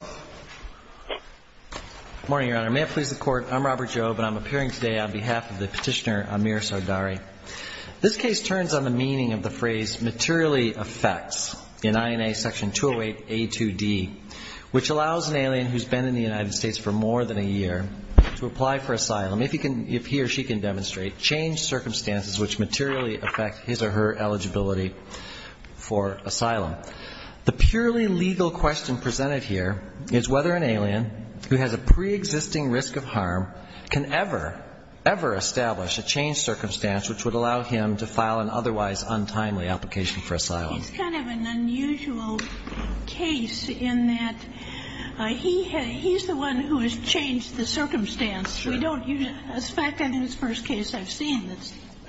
Good morning, Your Honor. May it please the Court, I'm Robert Joe, but I'm appearing today on behalf of the petitioner, Amir Sardari. This case turns on the meaning of the phrase, materially affects, in INA Section 208, A2D, which allows an alien who's been in the United States for more than a year to apply for asylum, if he or she can demonstrate, change circumstances which materially affect his or her eligibility for asylum. The purely legal question presented here is whether an alien who has a preexisting risk of harm can ever, ever establish a change circumstance which would allow him to file an otherwise untimely application for asylum. He's kind of an unusual case in that he's the one who has changed the circumstance. We don't usually, in fact, in his first case I've seen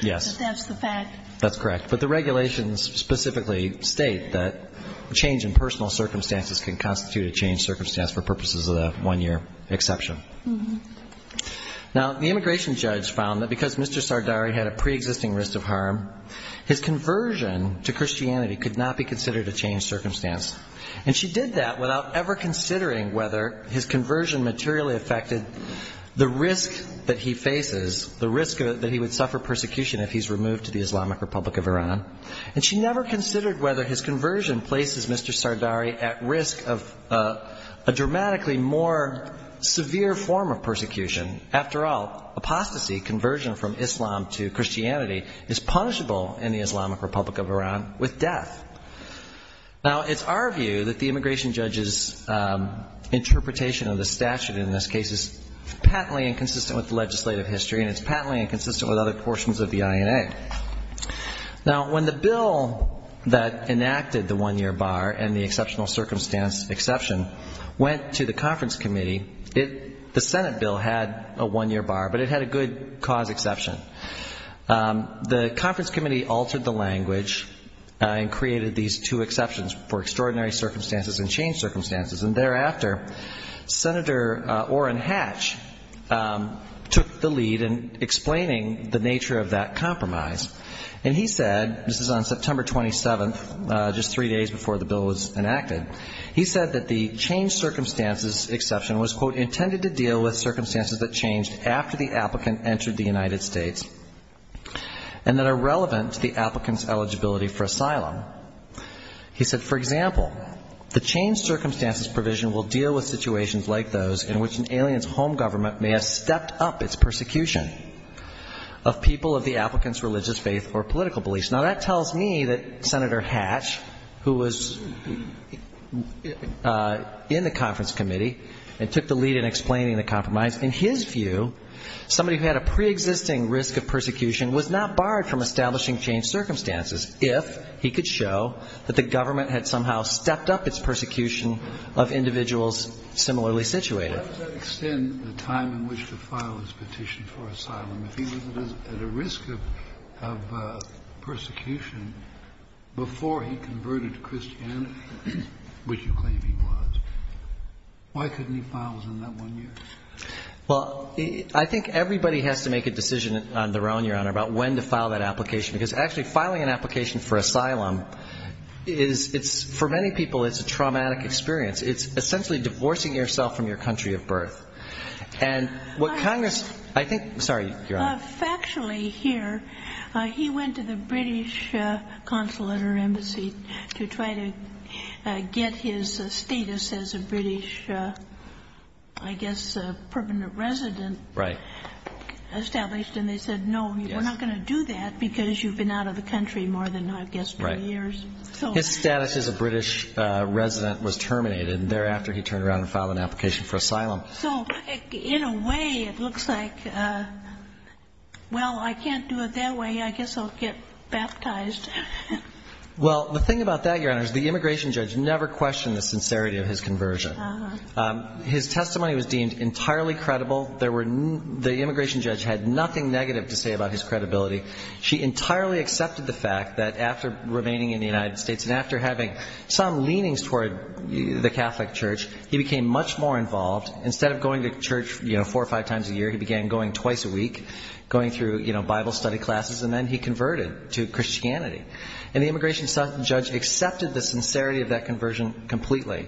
that's the fact. That's correct. But the regulations specifically state that change in personal circumstances can constitute a change circumstance for purposes of the one-year exception. Now, the immigration judge found that because Mr. Sardari had a preexisting risk of harm, his conversion to Christianity could not be considered a change circumstance. And she did that without ever considering whether his conversion materially affected the risk that he faces, the risk that he would suffer persecution if he's removed to the Islamic Republic of Iran. And she never considered whether his conversion places Mr. Sardari at risk of a dramatically more severe form of persecution. After all, apostasy, conversion from Islam to Christianity, is punishable in the Islamic Republic of Iran with death. Now, it's our view that the immigration judge's interpretation of the statute in this case is patently inconsistent with the legislative history, and it's patently inconsistent with other portions of the INA. Now, when the bill that enacted the one-year bar and the exceptional circumstance exception went to the conference committee, the Senate bill had a one-year bar, but it had a good cause exception. The conference committee altered the language and created these two exceptions for extraordinary circumstances and change circumstances. And thereafter, Senator Orrin Hatch took the lead in explaining the nature of that compromise. And he said, this is on September 27th, just three days before the bill was enacted, he said that the change circumstances exception was, quote, that changed after the applicant entered the United States, and that are relevant to the applicant's eligibility for asylum. He said, for example, the change circumstances provision will deal with situations like those in which an alien's home government may have stepped up its persecution of people of the applicant's religious faith or political beliefs. Now, that tells me that Senator Hatch, who was in the conference committee and took the lead in explaining the compromise, in his view, somebody who had a preexisting risk of persecution was not barred from establishing change circumstances if he could show that the government had somehow stepped up its persecution of individuals similarly situated. How does that extend the time in which to file his petition for asylum? If he was at a risk of persecution before he converted to Christianity, which you claim he was, why couldn't he file his in that one year? Well, I think everybody has to make a decision on their own, Your Honor, about when to file that application. Because actually filing an application for asylum is, for many people, it's a traumatic experience. It's essentially divorcing yourself from your country of birth. And what Congress, I think, sorry, Your Honor. Factually, here, he went to the British consulate or embassy to try to get his status as a British, I guess, permanent resident established, and they said, no, we're not going to do that because you've been out of the country more than, I guess, three years. His status as a British resident was terminated thereafter he turned around and filed an application for asylum. So, in a way, it looks like, well, I can't do it that way. I guess I'll get baptized. Well, the thing about that, Your Honor, is the immigration judge never questioned the sincerity of his conversion. His testimony was deemed entirely credible. The immigration judge had nothing negative to say about his credibility. She entirely accepted the fact that after remaining in the United States and after having some leanings toward the Catholic Church, he became much more involved. Instead of going to church, you know, four or five times a year, he began going twice a week, going through, you know, Bible study classes, and then he converted to Christianity. And the immigration judge accepted the sincerity of that conversion completely.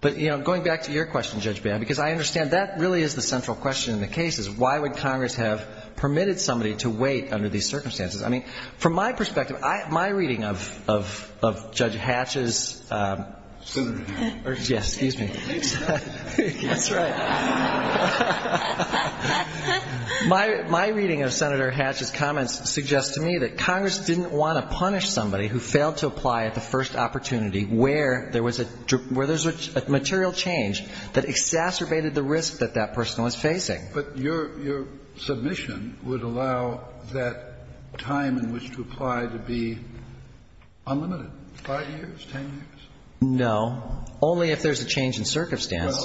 But, you know, going back to your question, Judge Baird, because I understand that really is the central question in the case, is why would Congress have permitted somebody to wait until they got their citizenship? I mean, from my perspective, my reading of Judge Hatch's... Senator Hatch. Yes, excuse me. That's right. My reading of Senator Hatch's comments suggests to me that Congress didn't want to punish somebody who failed to apply at the first opportunity where there was a material change that exacerbated the risk that that person was facing. But your submission would allow that time in which to apply to be unlimited, five years, ten years? No, only if there's a change in circumstance.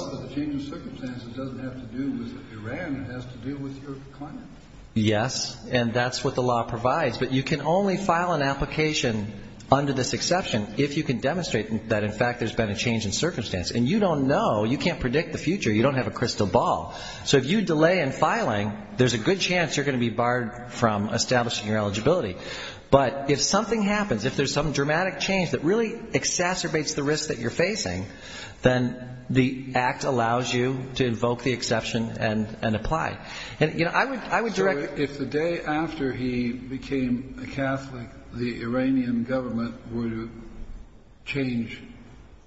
Yes, and that's what the law provides. But you can only file an application under this exception if you can demonstrate that, in fact, there's been a change in circumstance. And you don't know, you can't predict the future, you don't have a crystal ball. So if you delay in filing, there's a good chance you're going to be barred from establishing your eligibility. But if something happens, if there's some dramatic change that really exacerbates the risk that you're facing, then the Act allows you to invoke the exception and apply. And, you know, I would direct... If he became a Catholic, the Iranian government would change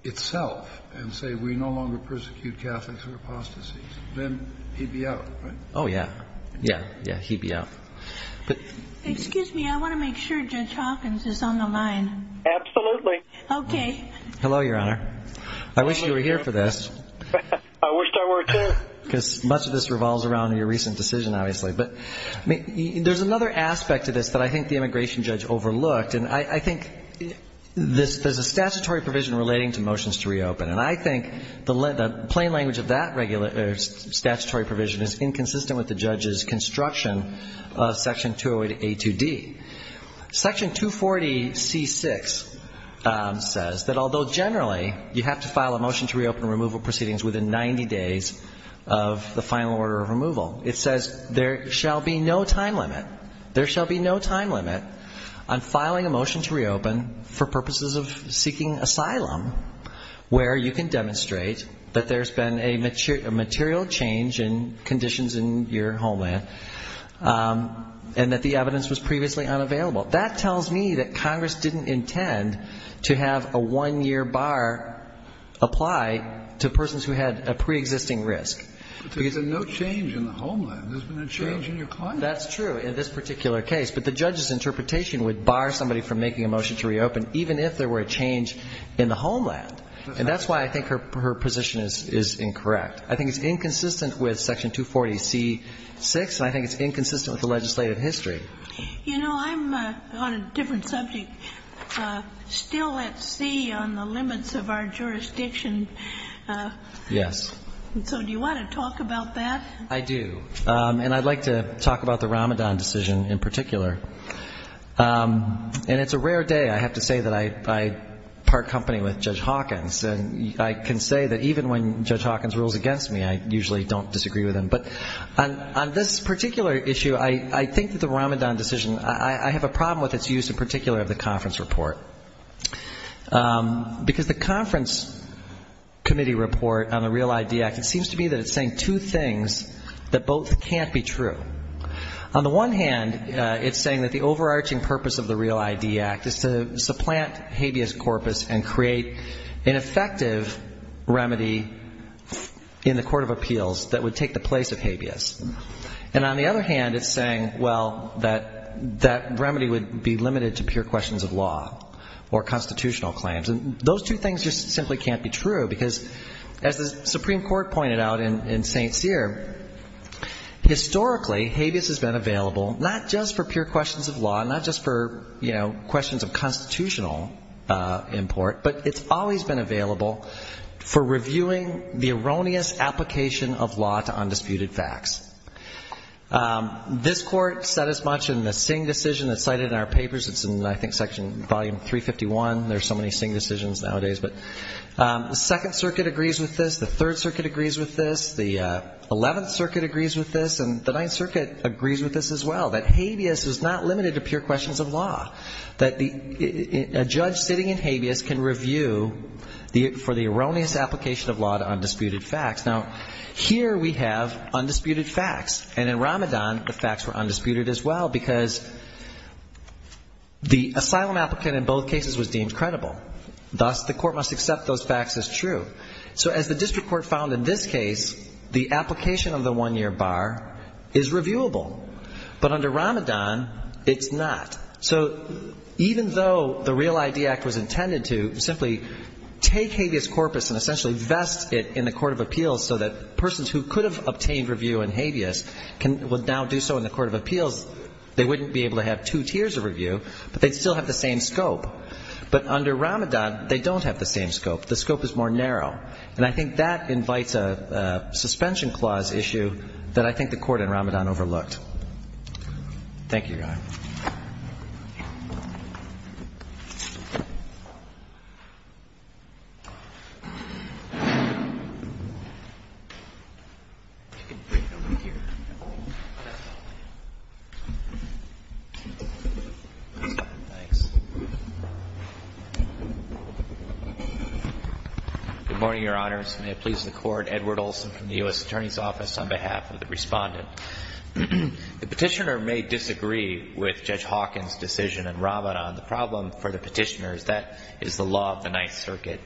itself and say, we no longer persecute Catholics or apostates. Then he'd be out, right? Oh, yeah. Yeah, yeah, he'd be out. Excuse me, I want to make sure Judge Hawkins is on the line. Absolutely. Okay. Hello, Your Honor. I wish you were here for this. I wish I were, too. Because much of this revolves around your recent decision, obviously. But there's another aspect to this that I think the immigration judge overlooked. And I think there's a statutory provision relating to motions to reopen. And I think the plain language of that statutory provision is inconsistent with the judge's construction of Section 208A2D. Section 240C6 says that although generally you have to file a motion to reopen removal proceedings within 90 days of the final order of removal, it says there shall be no time limit. There shall be no time limit on filing a motion to reopen for purposes of seeking asylum where you can demonstrate that there's been a material change in conditions in your homeland, and that the evidence was previously unconstitutional. That tells me that Congress didn't intend to have a one-year bar apply to persons who had a preexisting risk. But there's been no change in the homeland. There's been a change in your climate. That's true in this particular case. But the judge's interpretation would bar somebody from making a motion to reopen even if there were a change in the homeland. And that's why I think her position is incorrect. I think it's inconsistent with Section 240C6, and I think it's inconsistent with the legislative history. You know, I'm on a different subject. Still at sea on the limits of our jurisdiction. Yes. So do you want to talk about that? I do. And I'd like to talk about the Ramadan decision in particular. And it's a rare day, I have to say, that I part company with Judge Hawkins. And I can say that even when Judge Hawkins rules against me, I usually don't disagree with him. But on this particular issue, I think that the Ramadan decision, I have a problem with its use in particular of the conference report. Because the conference committee report on the REAL ID Act, it seems to me that it's saying two things that both can't be true. On the one hand, it's saying that the overarching purpose of the REAL ID Act is to supplant habeas corpus and create an effective remedy in the Court of Appeals that would take the place of habeas. And on the other hand, it's saying, well, that that remedy would be limited to pure questions of law or constitutional claims. And those two things just simply can't be true, because as the Supreme Court pointed out in St. Cyr, historically habeas has been available not just for pure questions of law, not just for, you know, questions of constitutional import, but it's always been available for reviewing the erroneous application of law to undisputed facts. This Court said as much in the Singh decision that's cited in our papers, it's in, I think, Section, Volume 351, there's so many Singh decisions nowadays, but the Second Circuit agrees with this, the Third Circuit agrees with this, the Eleventh Circuit agrees with this, and the Ninth Circuit agrees with this as well, that habeas is not limited to pure questions of law. That a judge sitting in habeas can review for the erroneous application of law to undisputed facts. Now, here we have undisputed facts, and in Ramadan, the facts were undisputed as well, because the asylum applicant in both cases was deemed credible. Thus, the Court must accept those facts as true. So as the district court found in this case, the application of the one-year bar is reviewable. But under Ramadan, it's not. So even though the Real ID Act was intended to simply take habeas corpus and essentially vest it in the Court of Appeals so that persons who could have obtained review in habeas would now do so in the Court of Appeals, they wouldn't be able to have two tiers of review, but they'd still have the same scope. But under Ramadan, they don't have the same scope. The scope is more narrow. And I think that invites a suspension clause issue that I think the Court in Ramadan overlooked. Thank you, Your Honor. Good morning, Your Honors. May it please the Court, Edward Olson from the U.S. Attorney's Office on behalf of the Respondent. The Petitioner may disagree with Judge Hawkins' decision in Ramadan. The problem for the Petitioner is that it is the law of the Ninth Circuit.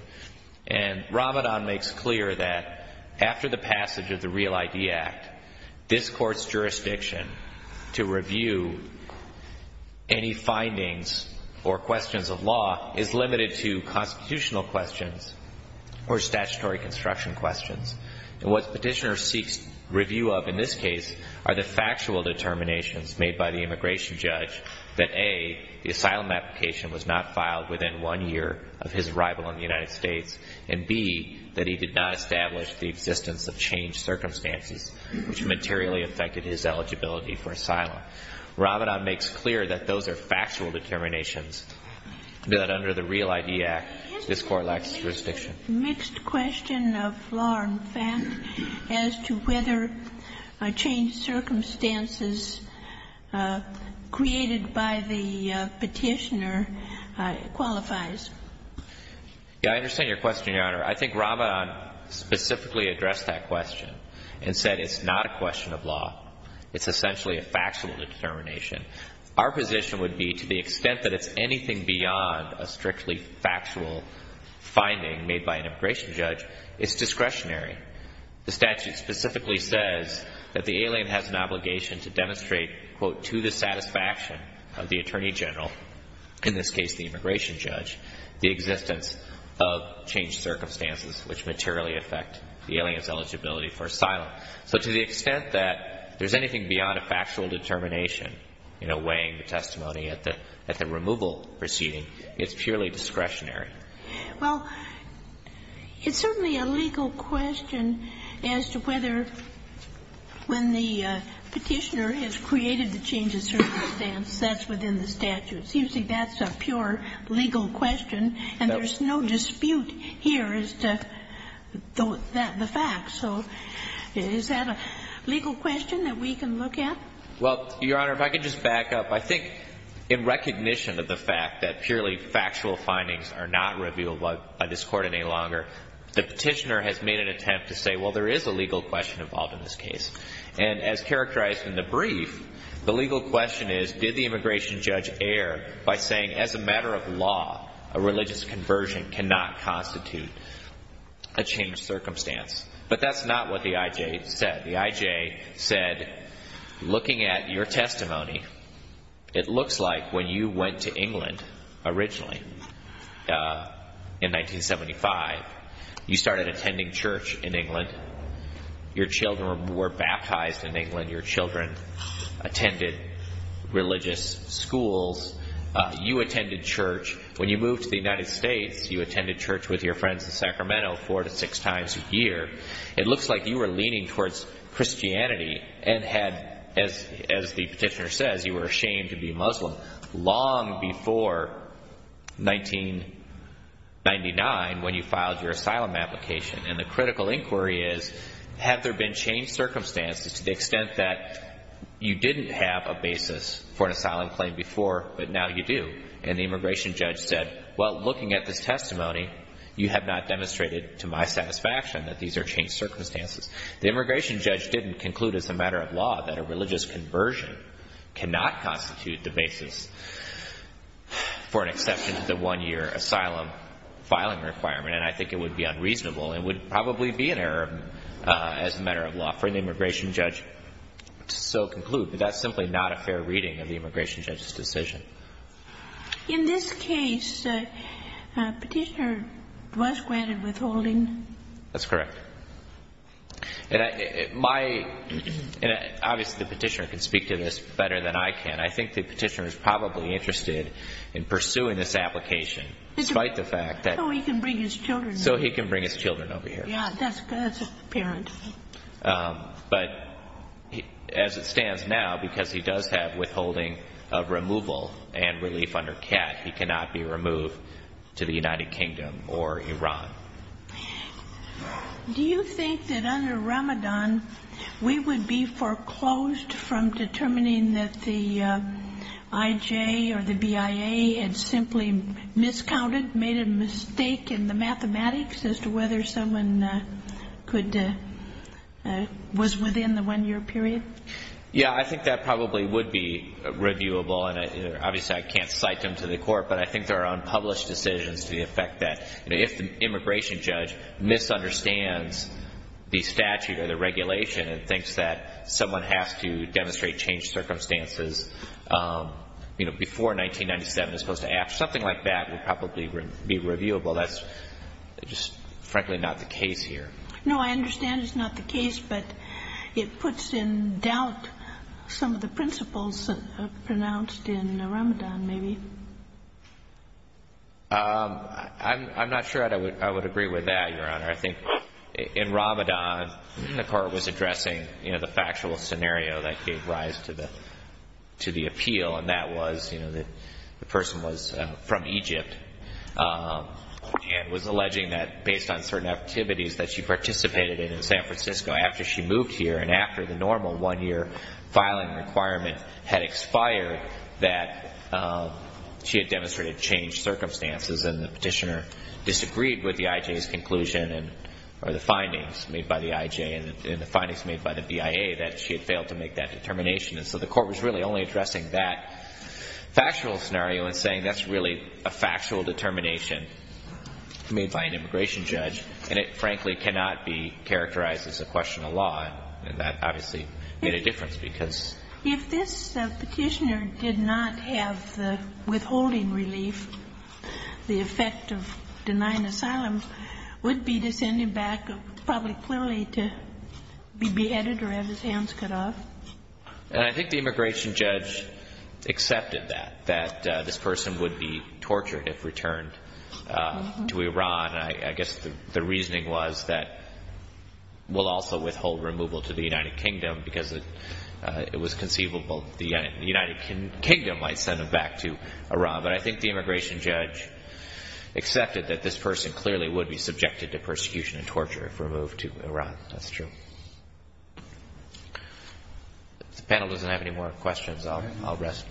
And Ramadan makes clear that after the passage of the Real ID Act, this Court's jurisdiction to review any findings or questions of law is limited to constitutional questions or statutory construction questions. And what Petitioner seeks review of in this case are the factual determinations made by the immigration judge that, A, the asylum application was not filed within one year of his arrival in the United States, and, B, that he did not establish the existence of changed circumstances which materially affected his eligibility for asylum. Ramadan makes clear that those are factual determinations, that under the Real ID Act, this Court lacks jurisdiction. And what Petitioner seeks review of in this case are the factual determinations made by the immigration judge that, A, the asylum application was not filed within one year of his arrival in the United States, and, B, that he did not establish the existence of changed circumstances created by the Petitioner qualifies. I understand your question, Your Honor. I think Ramadan specifically addressed that question and said it's not a question of law. It's a question of whether or not the Petitioner has an obligation to demonstrate, quote, to the satisfaction of the attorney general, in this case the immigration judge, the existence of changed circumstances which materially affect the alien's eligibility for asylum. So to the extent that there's anything beyond a factual determination, you know, weighing the testimony at the removal proceeding, it's purely discretionary. Well, it's certainly a legal question as to whether the Petitioner has an obligation to demonstrate, quote, the satisfaction of the attorney general, in this case the immigration judge, the existence of changed circumstances which materially affect the alien's eligibility for asylum. And the Petitioner has created the changed circumstance. That's within the statute. So you see, that's a pure legal question, and there's no dispute here as to the fact. So is that a legal question that we can look at? Well, Your Honor, if I could just back up. I think in recognition of the fact that purely factual findings are not revealed by this Court any longer, the Petitioner has made an attempt to say, well, there is a legal question involved in this case. And as characterized in the brief, the legal question is, did the immigration judge err by saying, as a matter of law, a religious conversion cannot constitute a changed circumstance? But that's not what the I.J. said. The I.J. said, looking at your testimony, it looks like when you went to England originally in 1975, you started attending church in England. Your children were baptized in England. Your children attended religious schools. You attended church. When you moved to the United States, you attended church with your friends in Sacramento four to six times a year. It looks like you were leaning towards Christianity and had, as the Petitioner says, you were ashamed to be Muslim long before 1999, when you filed your asylum application. And the critical inquiry is, have there been changed circumstances to the extent that you didn't have a basis for an asylum claim before, but now you do? And the immigration judge said, well, looking at this case, it looks like there are changed circumstances. The immigration judge didn't conclude, as a matter of law, that a religious conversion cannot constitute the basis for an exception to the one-year asylum filing requirement. And I think it would be unreasonable and would probably be an error, as a matter of law, for the immigration judge to so conclude. But that's simply not a fair reading of the immigration judge's decision. In this case, Petitioner was granted withholding? That's correct. And my – obviously, the Petitioner can speak to this better than I can. I think the Petitioner is probably interested in pursuing this application, despite the fact that... So he can bring his children over here. Yeah, that's apparent. But as it stands now, because he does have withholding of removal and relief under CAT, he cannot be removed to the United Kingdom or Iran. Do you think that under Ramadan, we would be foreclosed from determining that the IJ or the BIA had simply miscounted, made a mistake in the mathematics as to whether someone could – was within the one-year period? Yeah, I think that probably would be reviewable. And obviously, I can't cite them to the Court, but I think there are unpublished decisions to the effect that, you know, if the immigration judge misunderstands the statute or the regulation and thinks that someone has to demonstrate changed circumstances, you know, before 1997 is supposed to act, something like that would probably be reviewable. That's just, frankly, not the case here. No, I understand it's not the case, but it puts in doubt some of the principles pronounced in Ramadan, maybe. I'm not sure I would agree with that, Your Honor. I think in Ramadan, the Court was addressing, you know, the factual scenario that gave rise to the appeal, and that was, you know, the person was from Egypt. And was alleging that based on certain activities that she participated in in San Francisco after she moved here and after the normal one-year filing requirement had expired, that she had demonstrated changed circumstances and the petitioner disagreed with the IJ's conclusion or the findings made by the IJ and the findings made by the BIA that she had failed to make that determination. And so the Court was really only addressing that factual scenario and saying that's really a factual determination made by an immigration judge. And it, frankly, cannot be characterized as a question of law, and that obviously made a difference, because If this petitioner did not have the withholding relief, the effect of denying asylum would be descending back probably clearly to be beheaded or have his hands cut off. And I think the immigration judge accepted that, that this person would be tortured if returned to Iran. I guess the reasoning was that we'll also withhold removal to the United Kingdom, because it was conceivable the United Kingdom might send him back to Iran. But I think the immigration judge accepted that this person clearly would be subjected to persecution and torture if removed to Iran. That's true. If the panel doesn't have any more questions, I'll rest.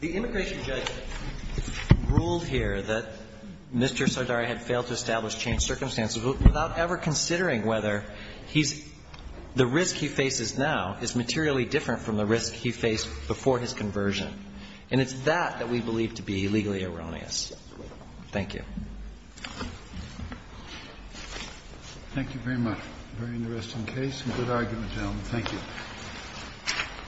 The immigration judge ruled here that Mr. Sardari had failed to establish changed circumstances without ever he faced before his conversion. And it's that that we believe to be legally erroneous. Thank you. Thank you very much. Very interesting case and good argument, gentlemen. Thank you.